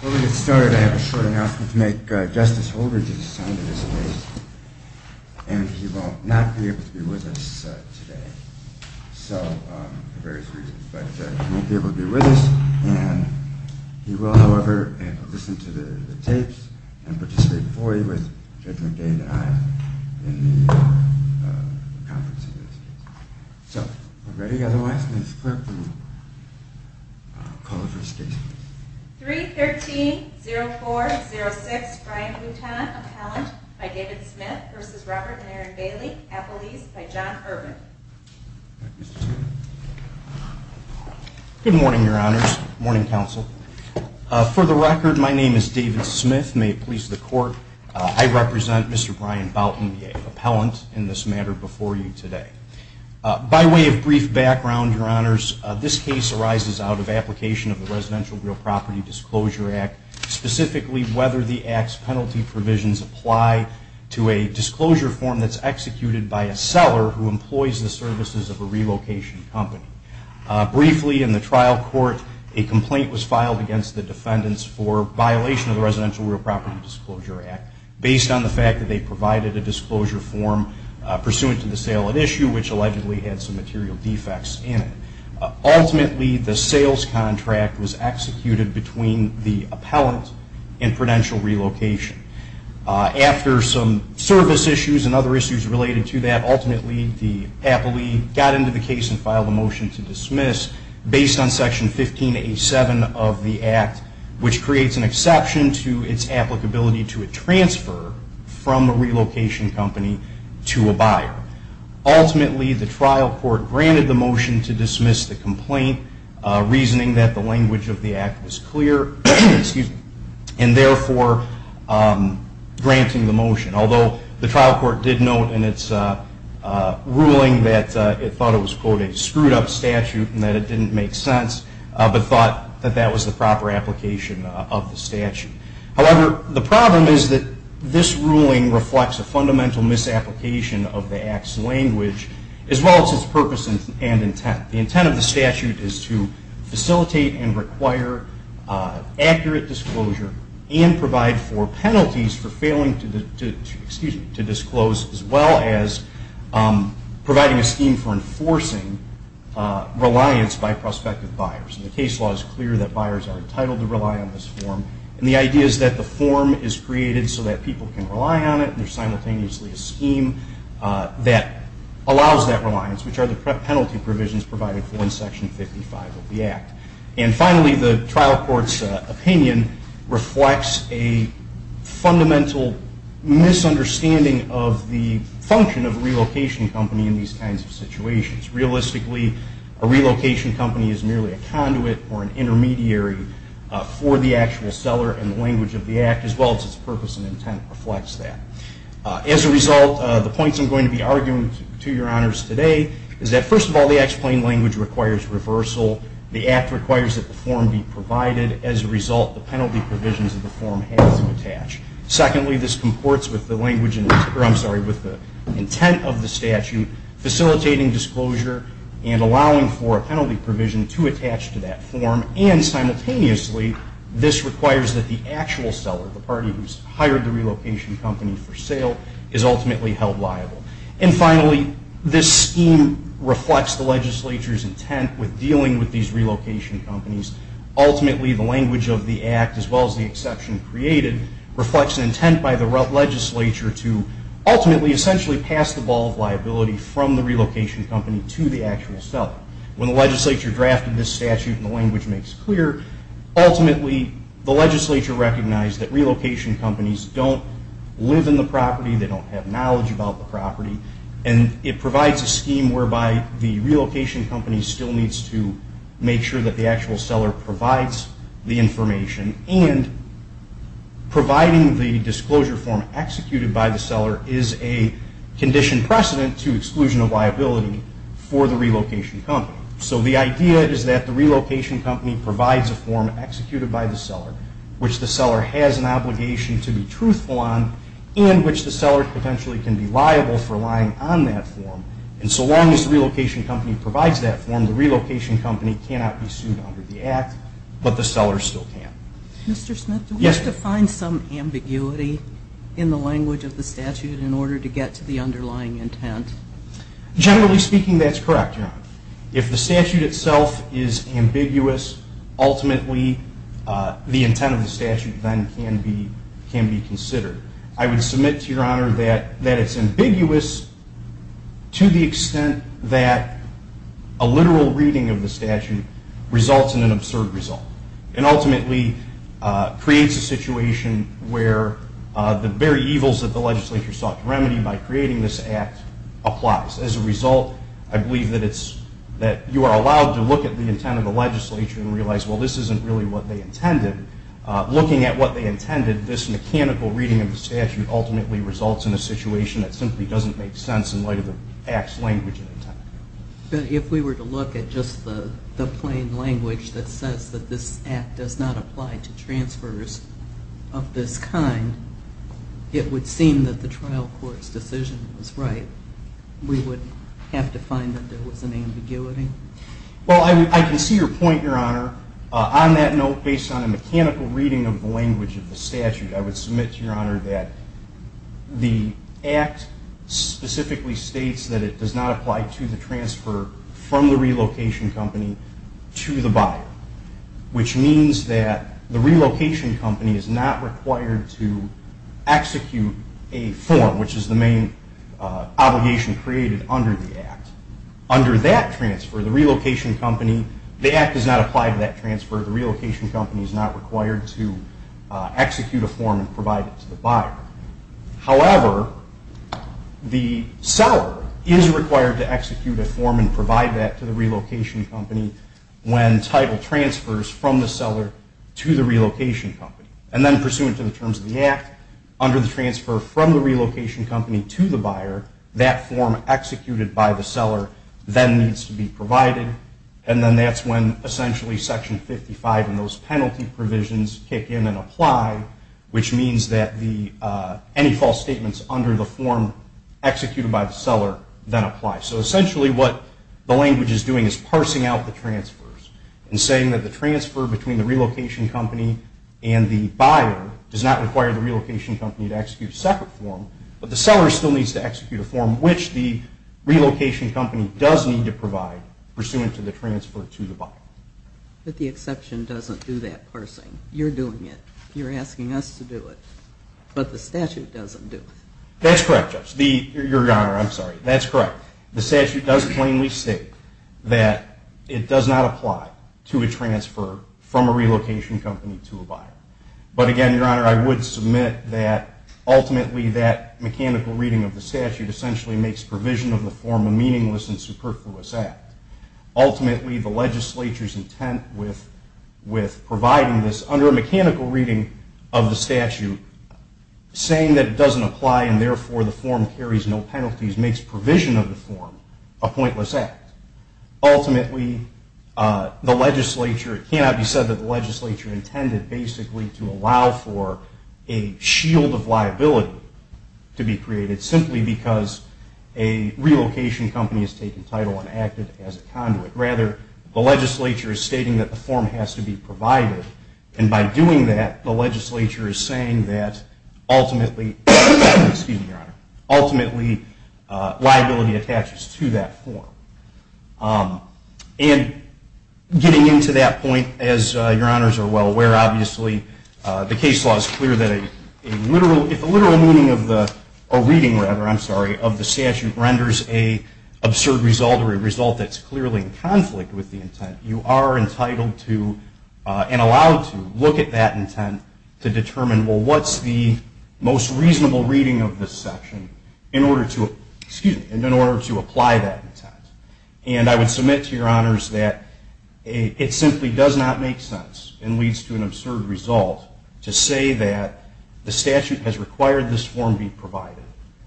Before we get started, I have a short announcement to make. Justice Holdridge is assigned to this case and he will not be able to be with us today for various reasons. He won't be able to be with us and he will, however, have to listen to the tapes and participate for you with Judge McDade and I in the conference. So, are we ready? I will ask the clerk to call the first case. 3-13-0406 Brian Bouton, Appellant by David Smith v. Robert and Erin Bailie, Appellees by John Urban. Good morning, Your Honors. Good morning, Counsel. For the record, my name is David Smith. May it please the Court, I represent Mr. Brian Bouton, the Appellant, in this matter before you today. By way of brief background, Your Honors, this case arises out of application of the Residential Real Property Disclosure Act, specifically whether the Act's penalty provisions apply to a disclosure form that's executed by a seller who employs the services of a relocation company. Briefly, in the trial court, a complaint was filed against the defendants for violation of the Residential Real Property Disclosure Act based on the fact that they provided a disclosure form pursuant to the sale at issue, which allegedly had some material defects in it. Ultimately, the sales contract was executed between the Appellant and Prudential Relocation. After some service issues and other issues related to that, ultimately the Appellee got into the case and filed a motion to dismiss based on Section 15-A-7 of the Act, which creates an exception to its applicability to a transfer from a relocation company to a buyer. Ultimately, the trial court granted the motion to dismiss the complaint, reasoning that the language of the Act was clear, and therefore granting the motion, although the trial court did note in its ruling that it thought it was, quote, a screwed-up statute and that it didn't make sense, but thought that that was the proper application of the statute. However, the problem is that this ruling reflects a fundamental misapplication of the Act's language, as well as its purpose and intent. The intent of the statute is to facilitate and require accurate disclosure and provide for penalties for failing to disclose, as well as providing a scheme for enforcing reliance by prospective buyers. The case law is clear that buyers are entitled to rely on this form, and the idea is that the form is created so that people can rely on it and there's simultaneously a scheme that allows that reliance, which are the penalty provisions provided for in Section 55 of the Act. And finally, the trial court's opinion reflects a fundamental misunderstanding of the function of a relocation company in these kinds of situations. Realistically, a relocation company is merely a conduit or an intermediary for the actual seller, and the language of the Act, as well as its purpose and intent, reflects that. As a result, the points I'm going to be arguing to your honors today is that, first of all, the Act's plain language requires reversal. The Act requires that the form be provided. As a result, the penalty provisions of the form have to attach. Secondly, this comports with the language, or I'm sorry, with the intent of the statute, facilitating disclosure and allowing for a penalty provision to attach to that form. And simultaneously, this requires that the actual seller, the party who's hired the relocation company for sale, is ultimately held liable. And finally, this scheme reflects the legislature's intent with dealing with these relocation companies. Ultimately, the language of the Act, as well as the exception created, reflects an intent by the legislature to ultimately, essentially, pass the ball of liability from the relocation company to the actual seller. When the legislature drafted this statute, and the language makes clear, ultimately, the legislature recognized that relocation companies don't live in the property, they don't have knowledge about the property, and it provides a scheme whereby the relocation company still needs to make sure that the actual seller provides the information. And providing the disclosure form executed by the seller is a condition precedent to exclusion of liability for the relocation company. So the idea is that the relocation company provides a form executed by the seller, which the seller has an obligation to be truthful on, and which the seller potentially can be liable for relying on that form. And so long as the relocation company provides that form, the relocation company cannot be sued under the Act, but the seller still can. Mr. Smith, do we have to find some ambiguity in the language of the statute in order to get to the underlying intent? Generally speaking, that's correct, Your Honor. If the statute itself is ambiguous, ultimately, the intent of the statute then can be considered. I would submit to Your Honor that it's ambiguous to the extent that a literal reading of the statute results in an absurd result, and ultimately creates a situation where the very evils that the legislature sought to remedy by creating this Act applies. As a result, I believe that you are allowed to look at the intent of the legislature and realize, well, this isn't really what they intended. Looking at what they intended, this mechanical reading of the statute ultimately results in a situation that simply doesn't make sense in light of the Act's language and intent. But if we were to look at just the plain language that says that this Act does not apply to transfers of this kind, it would seem that the trial court's decision was right. We would have to find that there was an ambiguity? Well, I can see your point, Your Honor. On that note, based on a mechanical reading of the language of the statute, I would submit to Your Honor that the Act specifically states that it does not apply to the transfer from the relocation company to the buyer, which means that the relocation company is not required to execute a form, which is the main obligation created under the Act. Under that transfer, the Act does not apply to that transfer. The relocation company is not required to execute a form and provide it to the buyer. However, the seller is required to execute a form and provide that to the relocation company when title transfers from the seller to the relocation company. And then pursuant to the terms of the Act, under the transfer from the relocation company to the buyer, that form executed by the seller then needs to be provided, and then that's when essentially Section 55 and those penalty provisions kick in and apply, which means that any false statements under the form executed by the seller then apply. So essentially what the language is doing is parsing out the transfers and saying that the transfer between the relocation company and the buyer does not require the relocation company to execute a separate form, but the seller still needs to execute a form, which the relocation company does need to provide pursuant to the transfer to the buyer. But the exception doesn't do that parsing. You're doing it. You're asking us to do it, but the statute doesn't do it. That's correct, Judge. Your Honor, I'm sorry. That's correct. The statute does plainly state that it does not apply to a transfer from a relocation company to a buyer. But again, Your Honor, I would submit that ultimately that mechanical reading of the statute essentially makes provision of the form a meaningless and superfluous act. Ultimately, the legislature's intent with providing this under a mechanical reading of the statute, saying that it doesn't apply and therefore the form carries no penalties, makes provision of the form a pointless act. Ultimately, it cannot be said that the legislature intended basically to allow for a shield of liability to be created simply because a relocation company has taken title and acted as a conduit. Rather, the legislature is stating that the form has to be provided, and by doing that, the legislature is saying that ultimately liability attaches to that form. And getting into that point, as Your Honors are well aware, obviously the case law is clear that if a literal reading of the statute renders an absurd result or a result that's clearly in conflict with the intent, you are entitled to and allowed to look at that intent to determine, well, what's the most reasonable reading of this section in order to apply that intent. And I would submit to Your Honors that it simply does not make sense and leads to an absurd result to say that the statute has required this form be provided,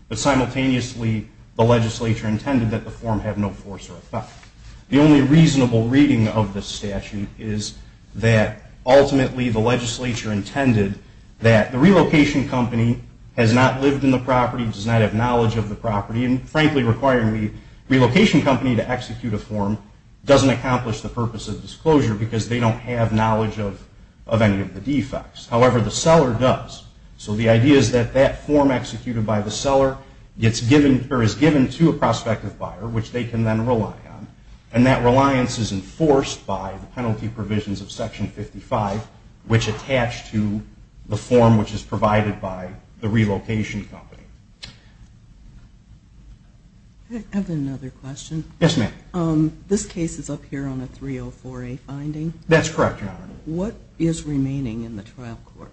but simultaneously the legislature intended that the form have no force or effect. The only reasonable reading of the statute is that ultimately the legislature intended that the relocation company has not lived in the property, does not have knowledge of the property, and frankly requiring the relocation company to execute a form doesn't accomplish the purpose of disclosure because they don't have knowledge of any of the defects. However, the seller does. So the idea is that that form executed by the seller is given to a prospective buyer, which they can then rely on, and that reliance is enforced by the penalty provisions of Section 55, which attach to the form which is provided by the relocation company. I have another question. Yes, ma'am. This case is up here on a 304A finding. That's correct, Your Honor. What is remaining in the trial court?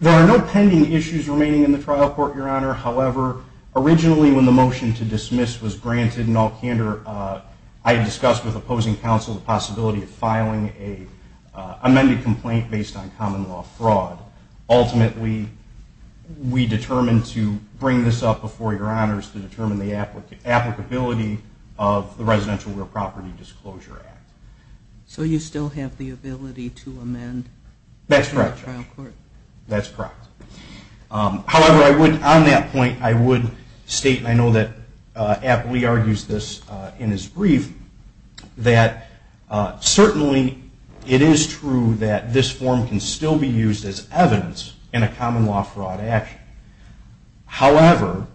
There are no pending issues remaining in the trial court, Your Honor. However, originally when the motion to dismiss was granted, in all candor, I discussed with opposing counsel the possibility of filing an amended complaint based on common law fraud. Ultimately, we determined to bring this up before Your Honors to determine the applicability of the Residential Real Property Disclosure Act. So you still have the ability to amend in the trial court? That's correct, Your Honor. That's correct. However, on that point, I would state, and I know that Appley argues this in his brief, that certainly it is true that this form can still be used as evidence in a common law fraud action. However,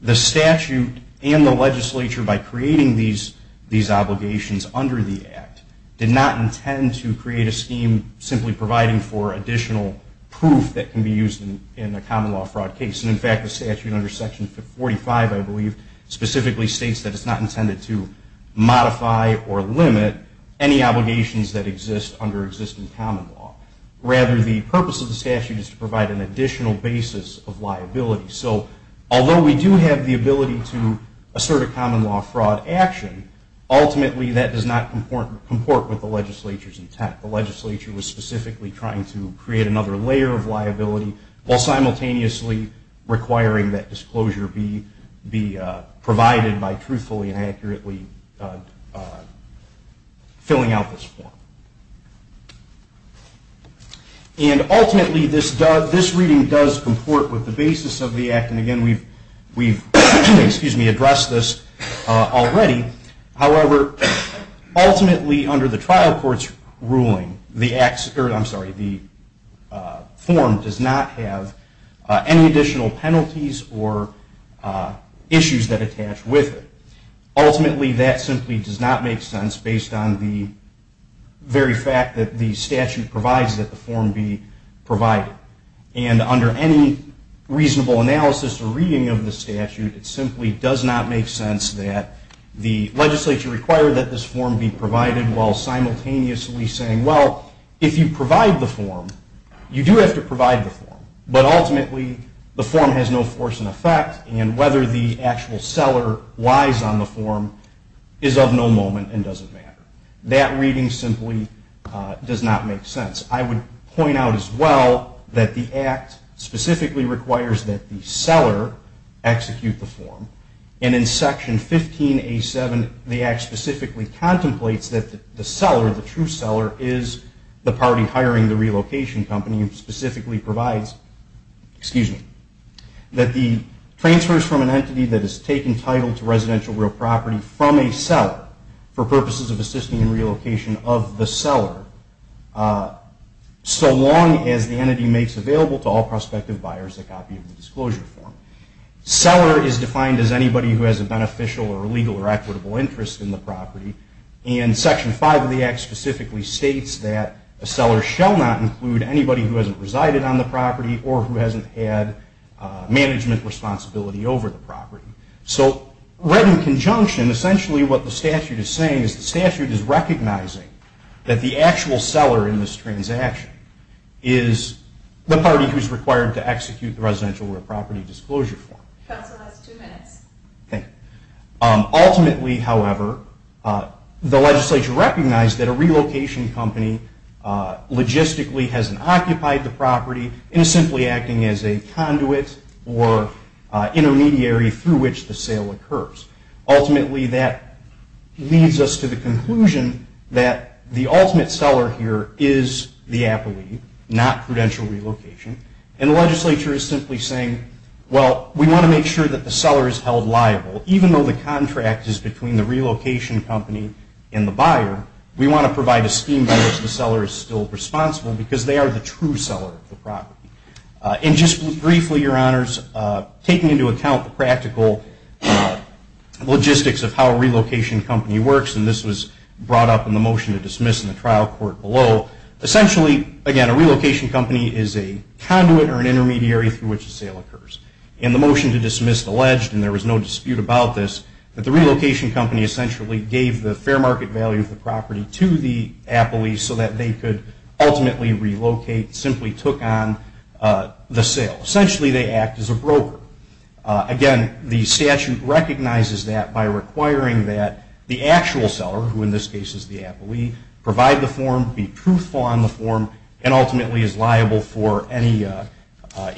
the statute and the legislature, by creating these obligations under the act, did not intend to create a scheme simply providing for additional proof that can be used in a common law fraud case. And, in fact, the statute under Section 45, I believe, specifically states that it's not intended to modify or limit any obligations that exist under existing common law. Rather, the purpose of the statute is to provide an additional basis of liability. So although we do have the ability to assert a common law fraud action, ultimately that does not comport with the legislature's intent. The legislature was specifically trying to create another layer of liability while simultaneously requiring that disclosure be provided by truthfully and accurately filling out this form. And, ultimately, this reading does comport with the basis of the act. And, again, we've addressed this already. However, ultimately, under the trial court's ruling, the form does not have any additional penalties or issues that attach with it. Ultimately, that simply does not make sense based on the very fact that the statute provides that the form be provided. And under any reasonable analysis or reading of the statute, it simply does not make sense that the legislature require that this form be provided while simultaneously saying, well, if you provide the form, you do have to provide the form. But, ultimately, the form has no force in effect, and whether the actual seller lies on the form is of no moment and doesn't matter. That reading simply does not make sense. I would point out as well that the act specifically requires that the seller execute the form. And in Section 15A7, the act specifically contemplates that the seller, the true seller, is the party hiring the relocation company and specifically provides, excuse me, that the transfers from an entity that is taken title to residential real property from a seller for purposes of assisting in relocation of the seller so long as the entity makes available to all prospective buyers a copy of the disclosure form. Seller is defined as anybody who has a beneficial or legal or equitable interest in the property. And Section 5 of the act specifically states that a seller shall not include anybody who hasn't resided on the property or who hasn't had management responsibility over the property. So, read in conjunction, essentially what the statute is saying is the statute is recognizing that the actual seller in this transaction is the party who is required to execute the residential real property disclosure form. Counsel, that's two minutes. Okay. Ultimately, however, the legislature recognized that a relocation company logistically hasn't occupied the property and is simply acting as a conduit or intermediary through which the sale occurs. Ultimately, that leads us to the conclusion that the ultimate seller here is the appellee, not prudential relocation. And the legislature is simply saying, well, we want to make sure that the seller is held liable. Even though the contract is between the relocation company and the buyer, we want to provide a scheme that the seller is still responsible because they are the true seller of the property. And just briefly, Your Honors, taking into account the practical logistics of how a relocation company works, and this was brought up in the motion to dismiss in the trial court below, essentially, again, a relocation company is a conduit or an intermediary through which the sale occurs. In the motion to dismiss alleged, and there was no dispute about this, that the relocation company essentially gave the fair market value of the property to the appellee so that they could ultimately relocate, simply took on the sale. Essentially, they act as a broker. Again, the statute recognizes that by requiring that the actual seller, who in this case is the appellee, provide the form, be truthful on the form, and ultimately is liable for any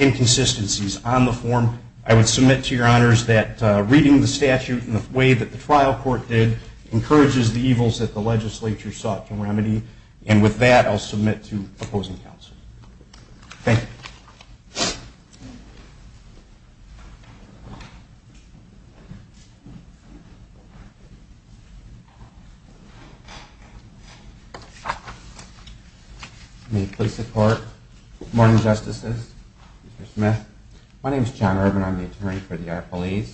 inconsistencies on the form. I would submit to Your Honors that reading the statute in the way that the trial court did encourages the evils that the legislature sought to remedy. And with that, I'll submit to opposing counsel. Thank you. May it please the Court. Morning, Justices. Mr. Smith. My name is John Urban. I'm the attorney for the appellees.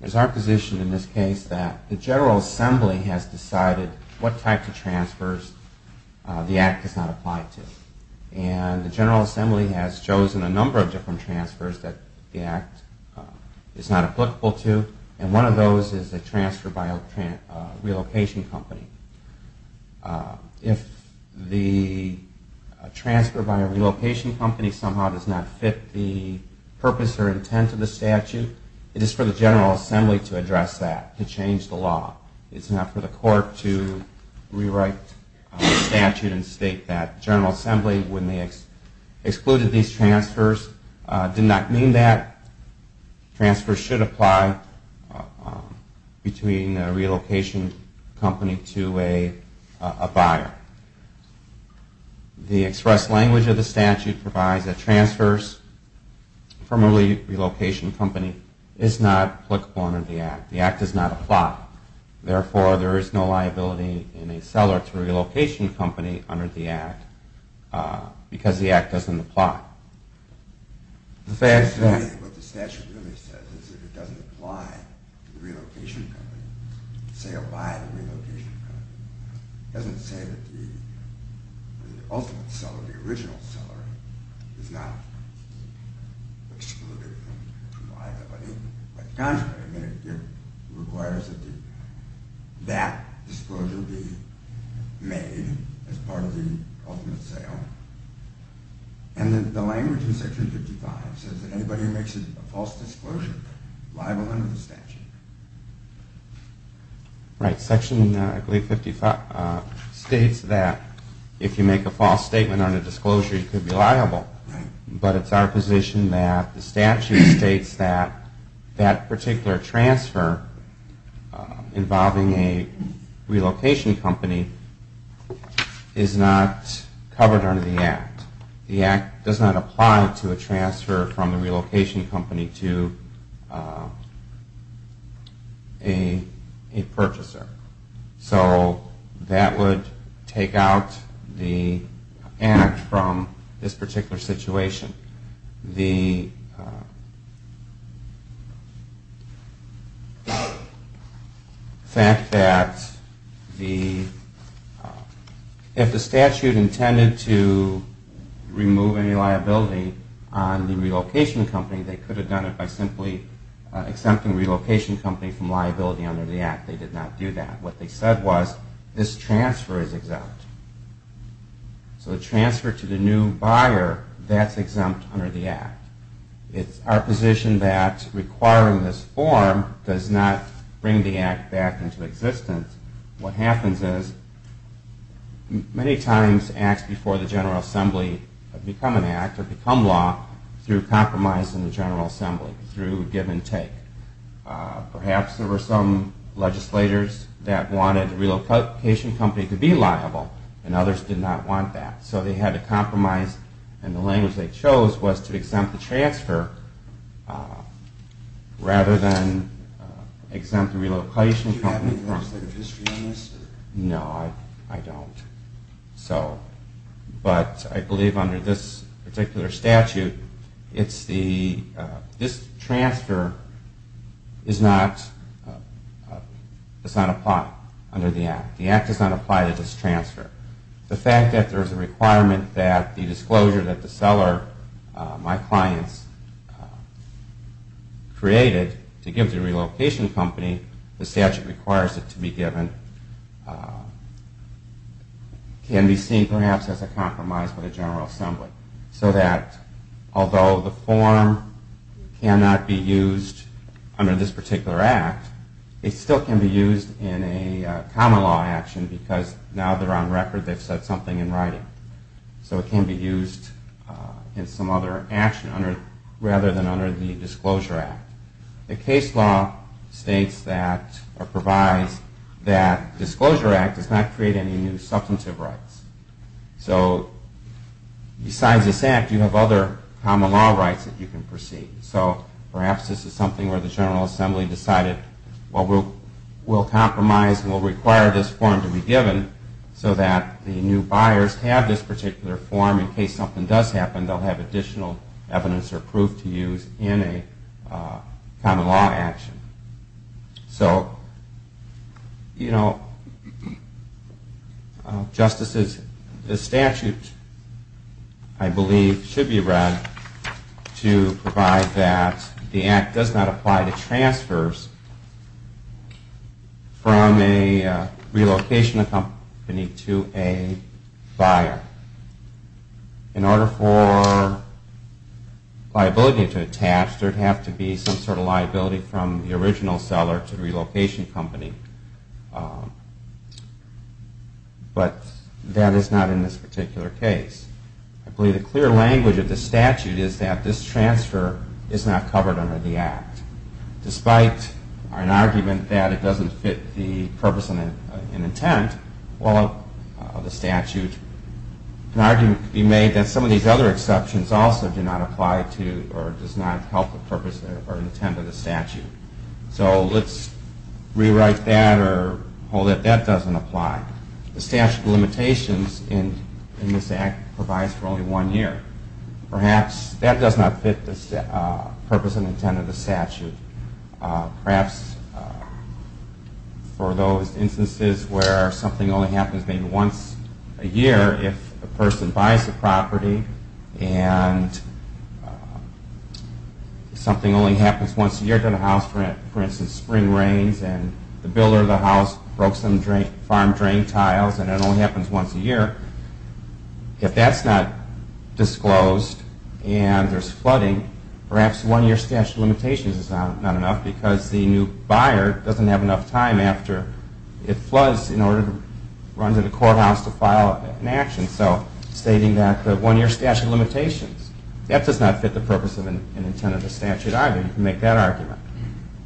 It is our position in this case that the General Assembly has decided what type of transfers the Act does not apply to. And the General Assembly has chosen a number of different transfers that the Act is not applicable to, and one of those is a transfer by a relocation company. If the transfer by a relocation company somehow does not fit the purpose or intent of the statute, it is for the General Assembly to address that, to change the law. It's not for the Court to rewrite the statute and state that. The General Assembly, when they excluded these transfers, did not mean that. Transfers should apply between a relocation company to a buyer. The express language of the statute provides that transfers from a relocation company is not applicable under the Act. The Act does not apply. Therefore, there is no liability in a seller to a relocation company under the Act because the Act doesn't apply. What the statute really says is that it doesn't apply to the relocation company, to the sale by the relocation company. It doesn't say that the ultimate seller, the original seller, is not excluded from buying the property. By contrast, it requires that that disclosure be made as part of the ultimate sale, and the language in Section 55 says that anybody who makes a false disclosure is liable under the statute. Right. Section 55 states that if you make a false statement on a disclosure, you could be liable, but it's our position that the statute states that that particular transfer involving a relocation company is not covered under the Act. The Act does not apply to a transfer from a relocation company to a purchaser. So that would take out the Act from this particular situation. The fact that if the statute intended to remove any liability on the relocation company, they could have done it by simply exempting the relocation company from liability under the Act. They did not do that. What they said was this transfer is exempt. So the transfer to the new buyer, that's exempt under the Act. It's our position that requiring this form does not bring the Act back into existence. What happens is many times Acts before the General Assembly have become an Act or become law through compromise in the General Assembly, through give and take. Perhaps there were some legislators that wanted the relocation company to be liable, and others did not want that. So they had to compromise, and the language they chose was to exempt the transfer rather than exempt the relocation company from it. Do you have any legislative history on this? No, I don't. But I believe under this particular statute, this transfer does not apply under the Act. The Act does not apply to this transfer. The fact that there's a requirement that the disclosure that the seller, my clients, created to give the relocation company, the statute requires it to be given can be seen perhaps as a compromise by the General Assembly. So that although the form cannot be used under this particular Act, it still can be used in a common law action because now they're on record, they've said something in writing. So it can be used in some other action rather than under the Disclosure Act. The case law states that or provides that Disclosure Act does not create any new substantive rights. So besides this Act, you have other common law rights that you can proceed. So perhaps this is something where the General Assembly decided, well, we'll compromise and we'll require this form to be given so that the new buyers have this particular form. In case something does happen, they'll have additional evidence or proof to use in a common law action. So, you know, justices, the statute I believe should be read to provide that the Act does not apply to transfers from a relocation company to a buyer. In order for liability to attach, there'd have to be some sort of liability from the original seller to the relocation company. But that is not in this particular case. I believe the clear language of the statute is that this transfer is not covered under the Act. Despite an argument that it doesn't fit the purpose and intent, well, of the statute, an argument could be made that some of these other exceptions also do not apply to or does not help the purpose or intent of the statute. So let's rewrite that or hold that that doesn't apply. The statute of limitations in this Act provides for only one year. Perhaps that does not fit the purpose and intent of the statute. Perhaps for those instances where something only happens maybe once a year if a person buys a property and something only happens once a year to the house, for instance, spring rains and the builder of the house broke some farm drain tiles and it only happens once a year. If that's not disclosed and there's flooding, perhaps one-year statute of limitations is not enough because the new buyer doesn't have enough time after it floods in order to run to the courthouse to file an action. So stating that the one-year statute of limitations, that does not fit the purpose and intent of the statute either. You can make that argument.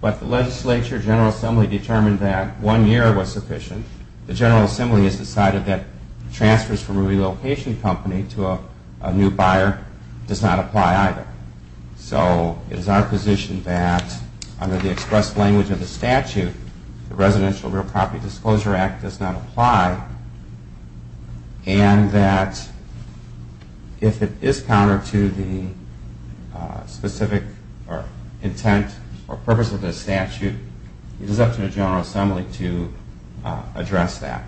But the legislature, General Assembly, determined that one year was sufficient. The General Assembly has decided that transfers from a relocation company to a new buyer does not apply either. So it is our position that under the express language of the statute, the Residential Real Property Disclosure Act does not apply and that if it is counter to the specific intent or purpose of the statute, it is up to the General Assembly to address that.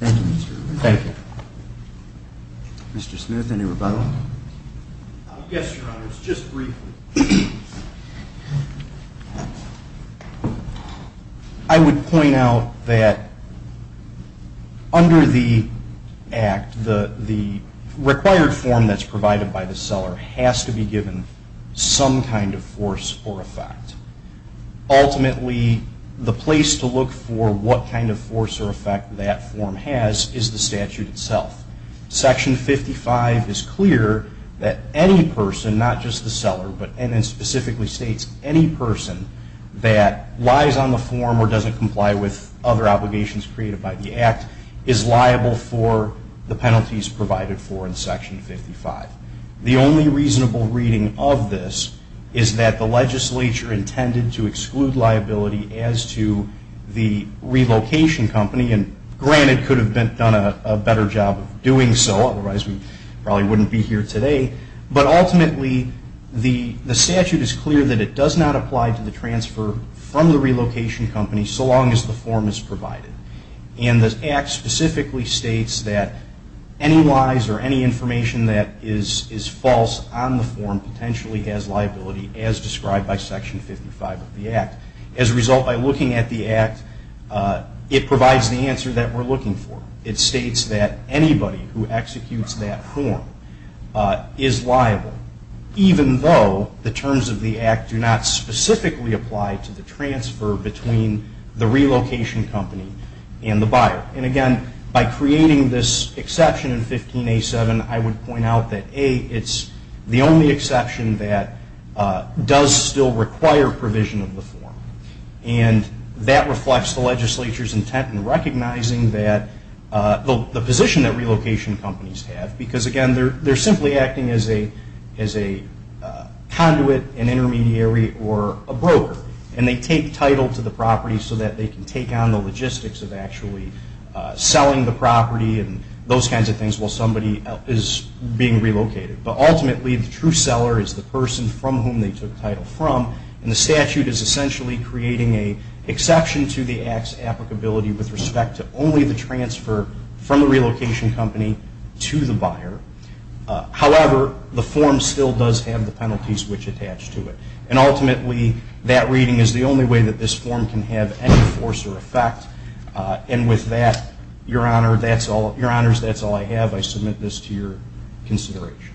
Thank you, Mr. Rubin. Thank you. Mr. Smith, any rebuttal? Yes, Your Honors, just briefly. I would point out that under the Act, the required form that's provided by the seller has to be given some kind of force or effect. Ultimately, the place to look for what kind of force or effect that form has is the statute itself. Section 55 is clear that any person, not just the seller, and it specifically states any person that lies on the form or doesn't comply with other obligations created by the Act, is liable for the penalties provided for in Section 55. The only reasonable reading of this is that the legislature intended to exclude liability as to the relocation company, and granted could have done a better job of doing so, otherwise we probably wouldn't be here today, but ultimately the statute is clear that it does not apply to the transfer from the relocation company so long as the form is provided. And the Act specifically states that any lies or any information that is false on the form potentially has liability as described by Section 55 of the Act. As a result, by looking at the Act, it provides the answer that we're looking for. It states that anybody who executes that form is liable, even though the terms of the Act do not specifically apply to the transfer between the relocation company and the buyer. And again, by creating this exception in 15A7, I would point out that A, it's the only exception that does still require provision of the form, and that reflects the legislature's intent in recognizing the position that relocation companies have, because again, they're simply acting as a conduit, an intermediary, or a broker, and they take title to the property so that they can take on the logistics of actually selling the property and those kinds of things while somebody is being relocated. But ultimately, the true seller is the person from whom they took the title from, and the statute is essentially creating an exception to the Act's applicability with respect to only the transfer from the relocation company to the buyer. However, the form still does have the penalties which attach to it. And ultimately, that reading is the only way that this form can have any force or effect. And with that, Your Honor, that's all. Your Honors, that's all I have. I submit this to your consideration.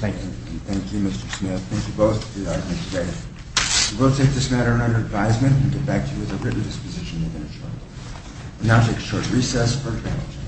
Thank you. Thank you, Mr. Smith. Thank you both for your time today. We will take this matter under advisement and get back to you with a written disposition within a short while. We now take a short recess for panel discussion.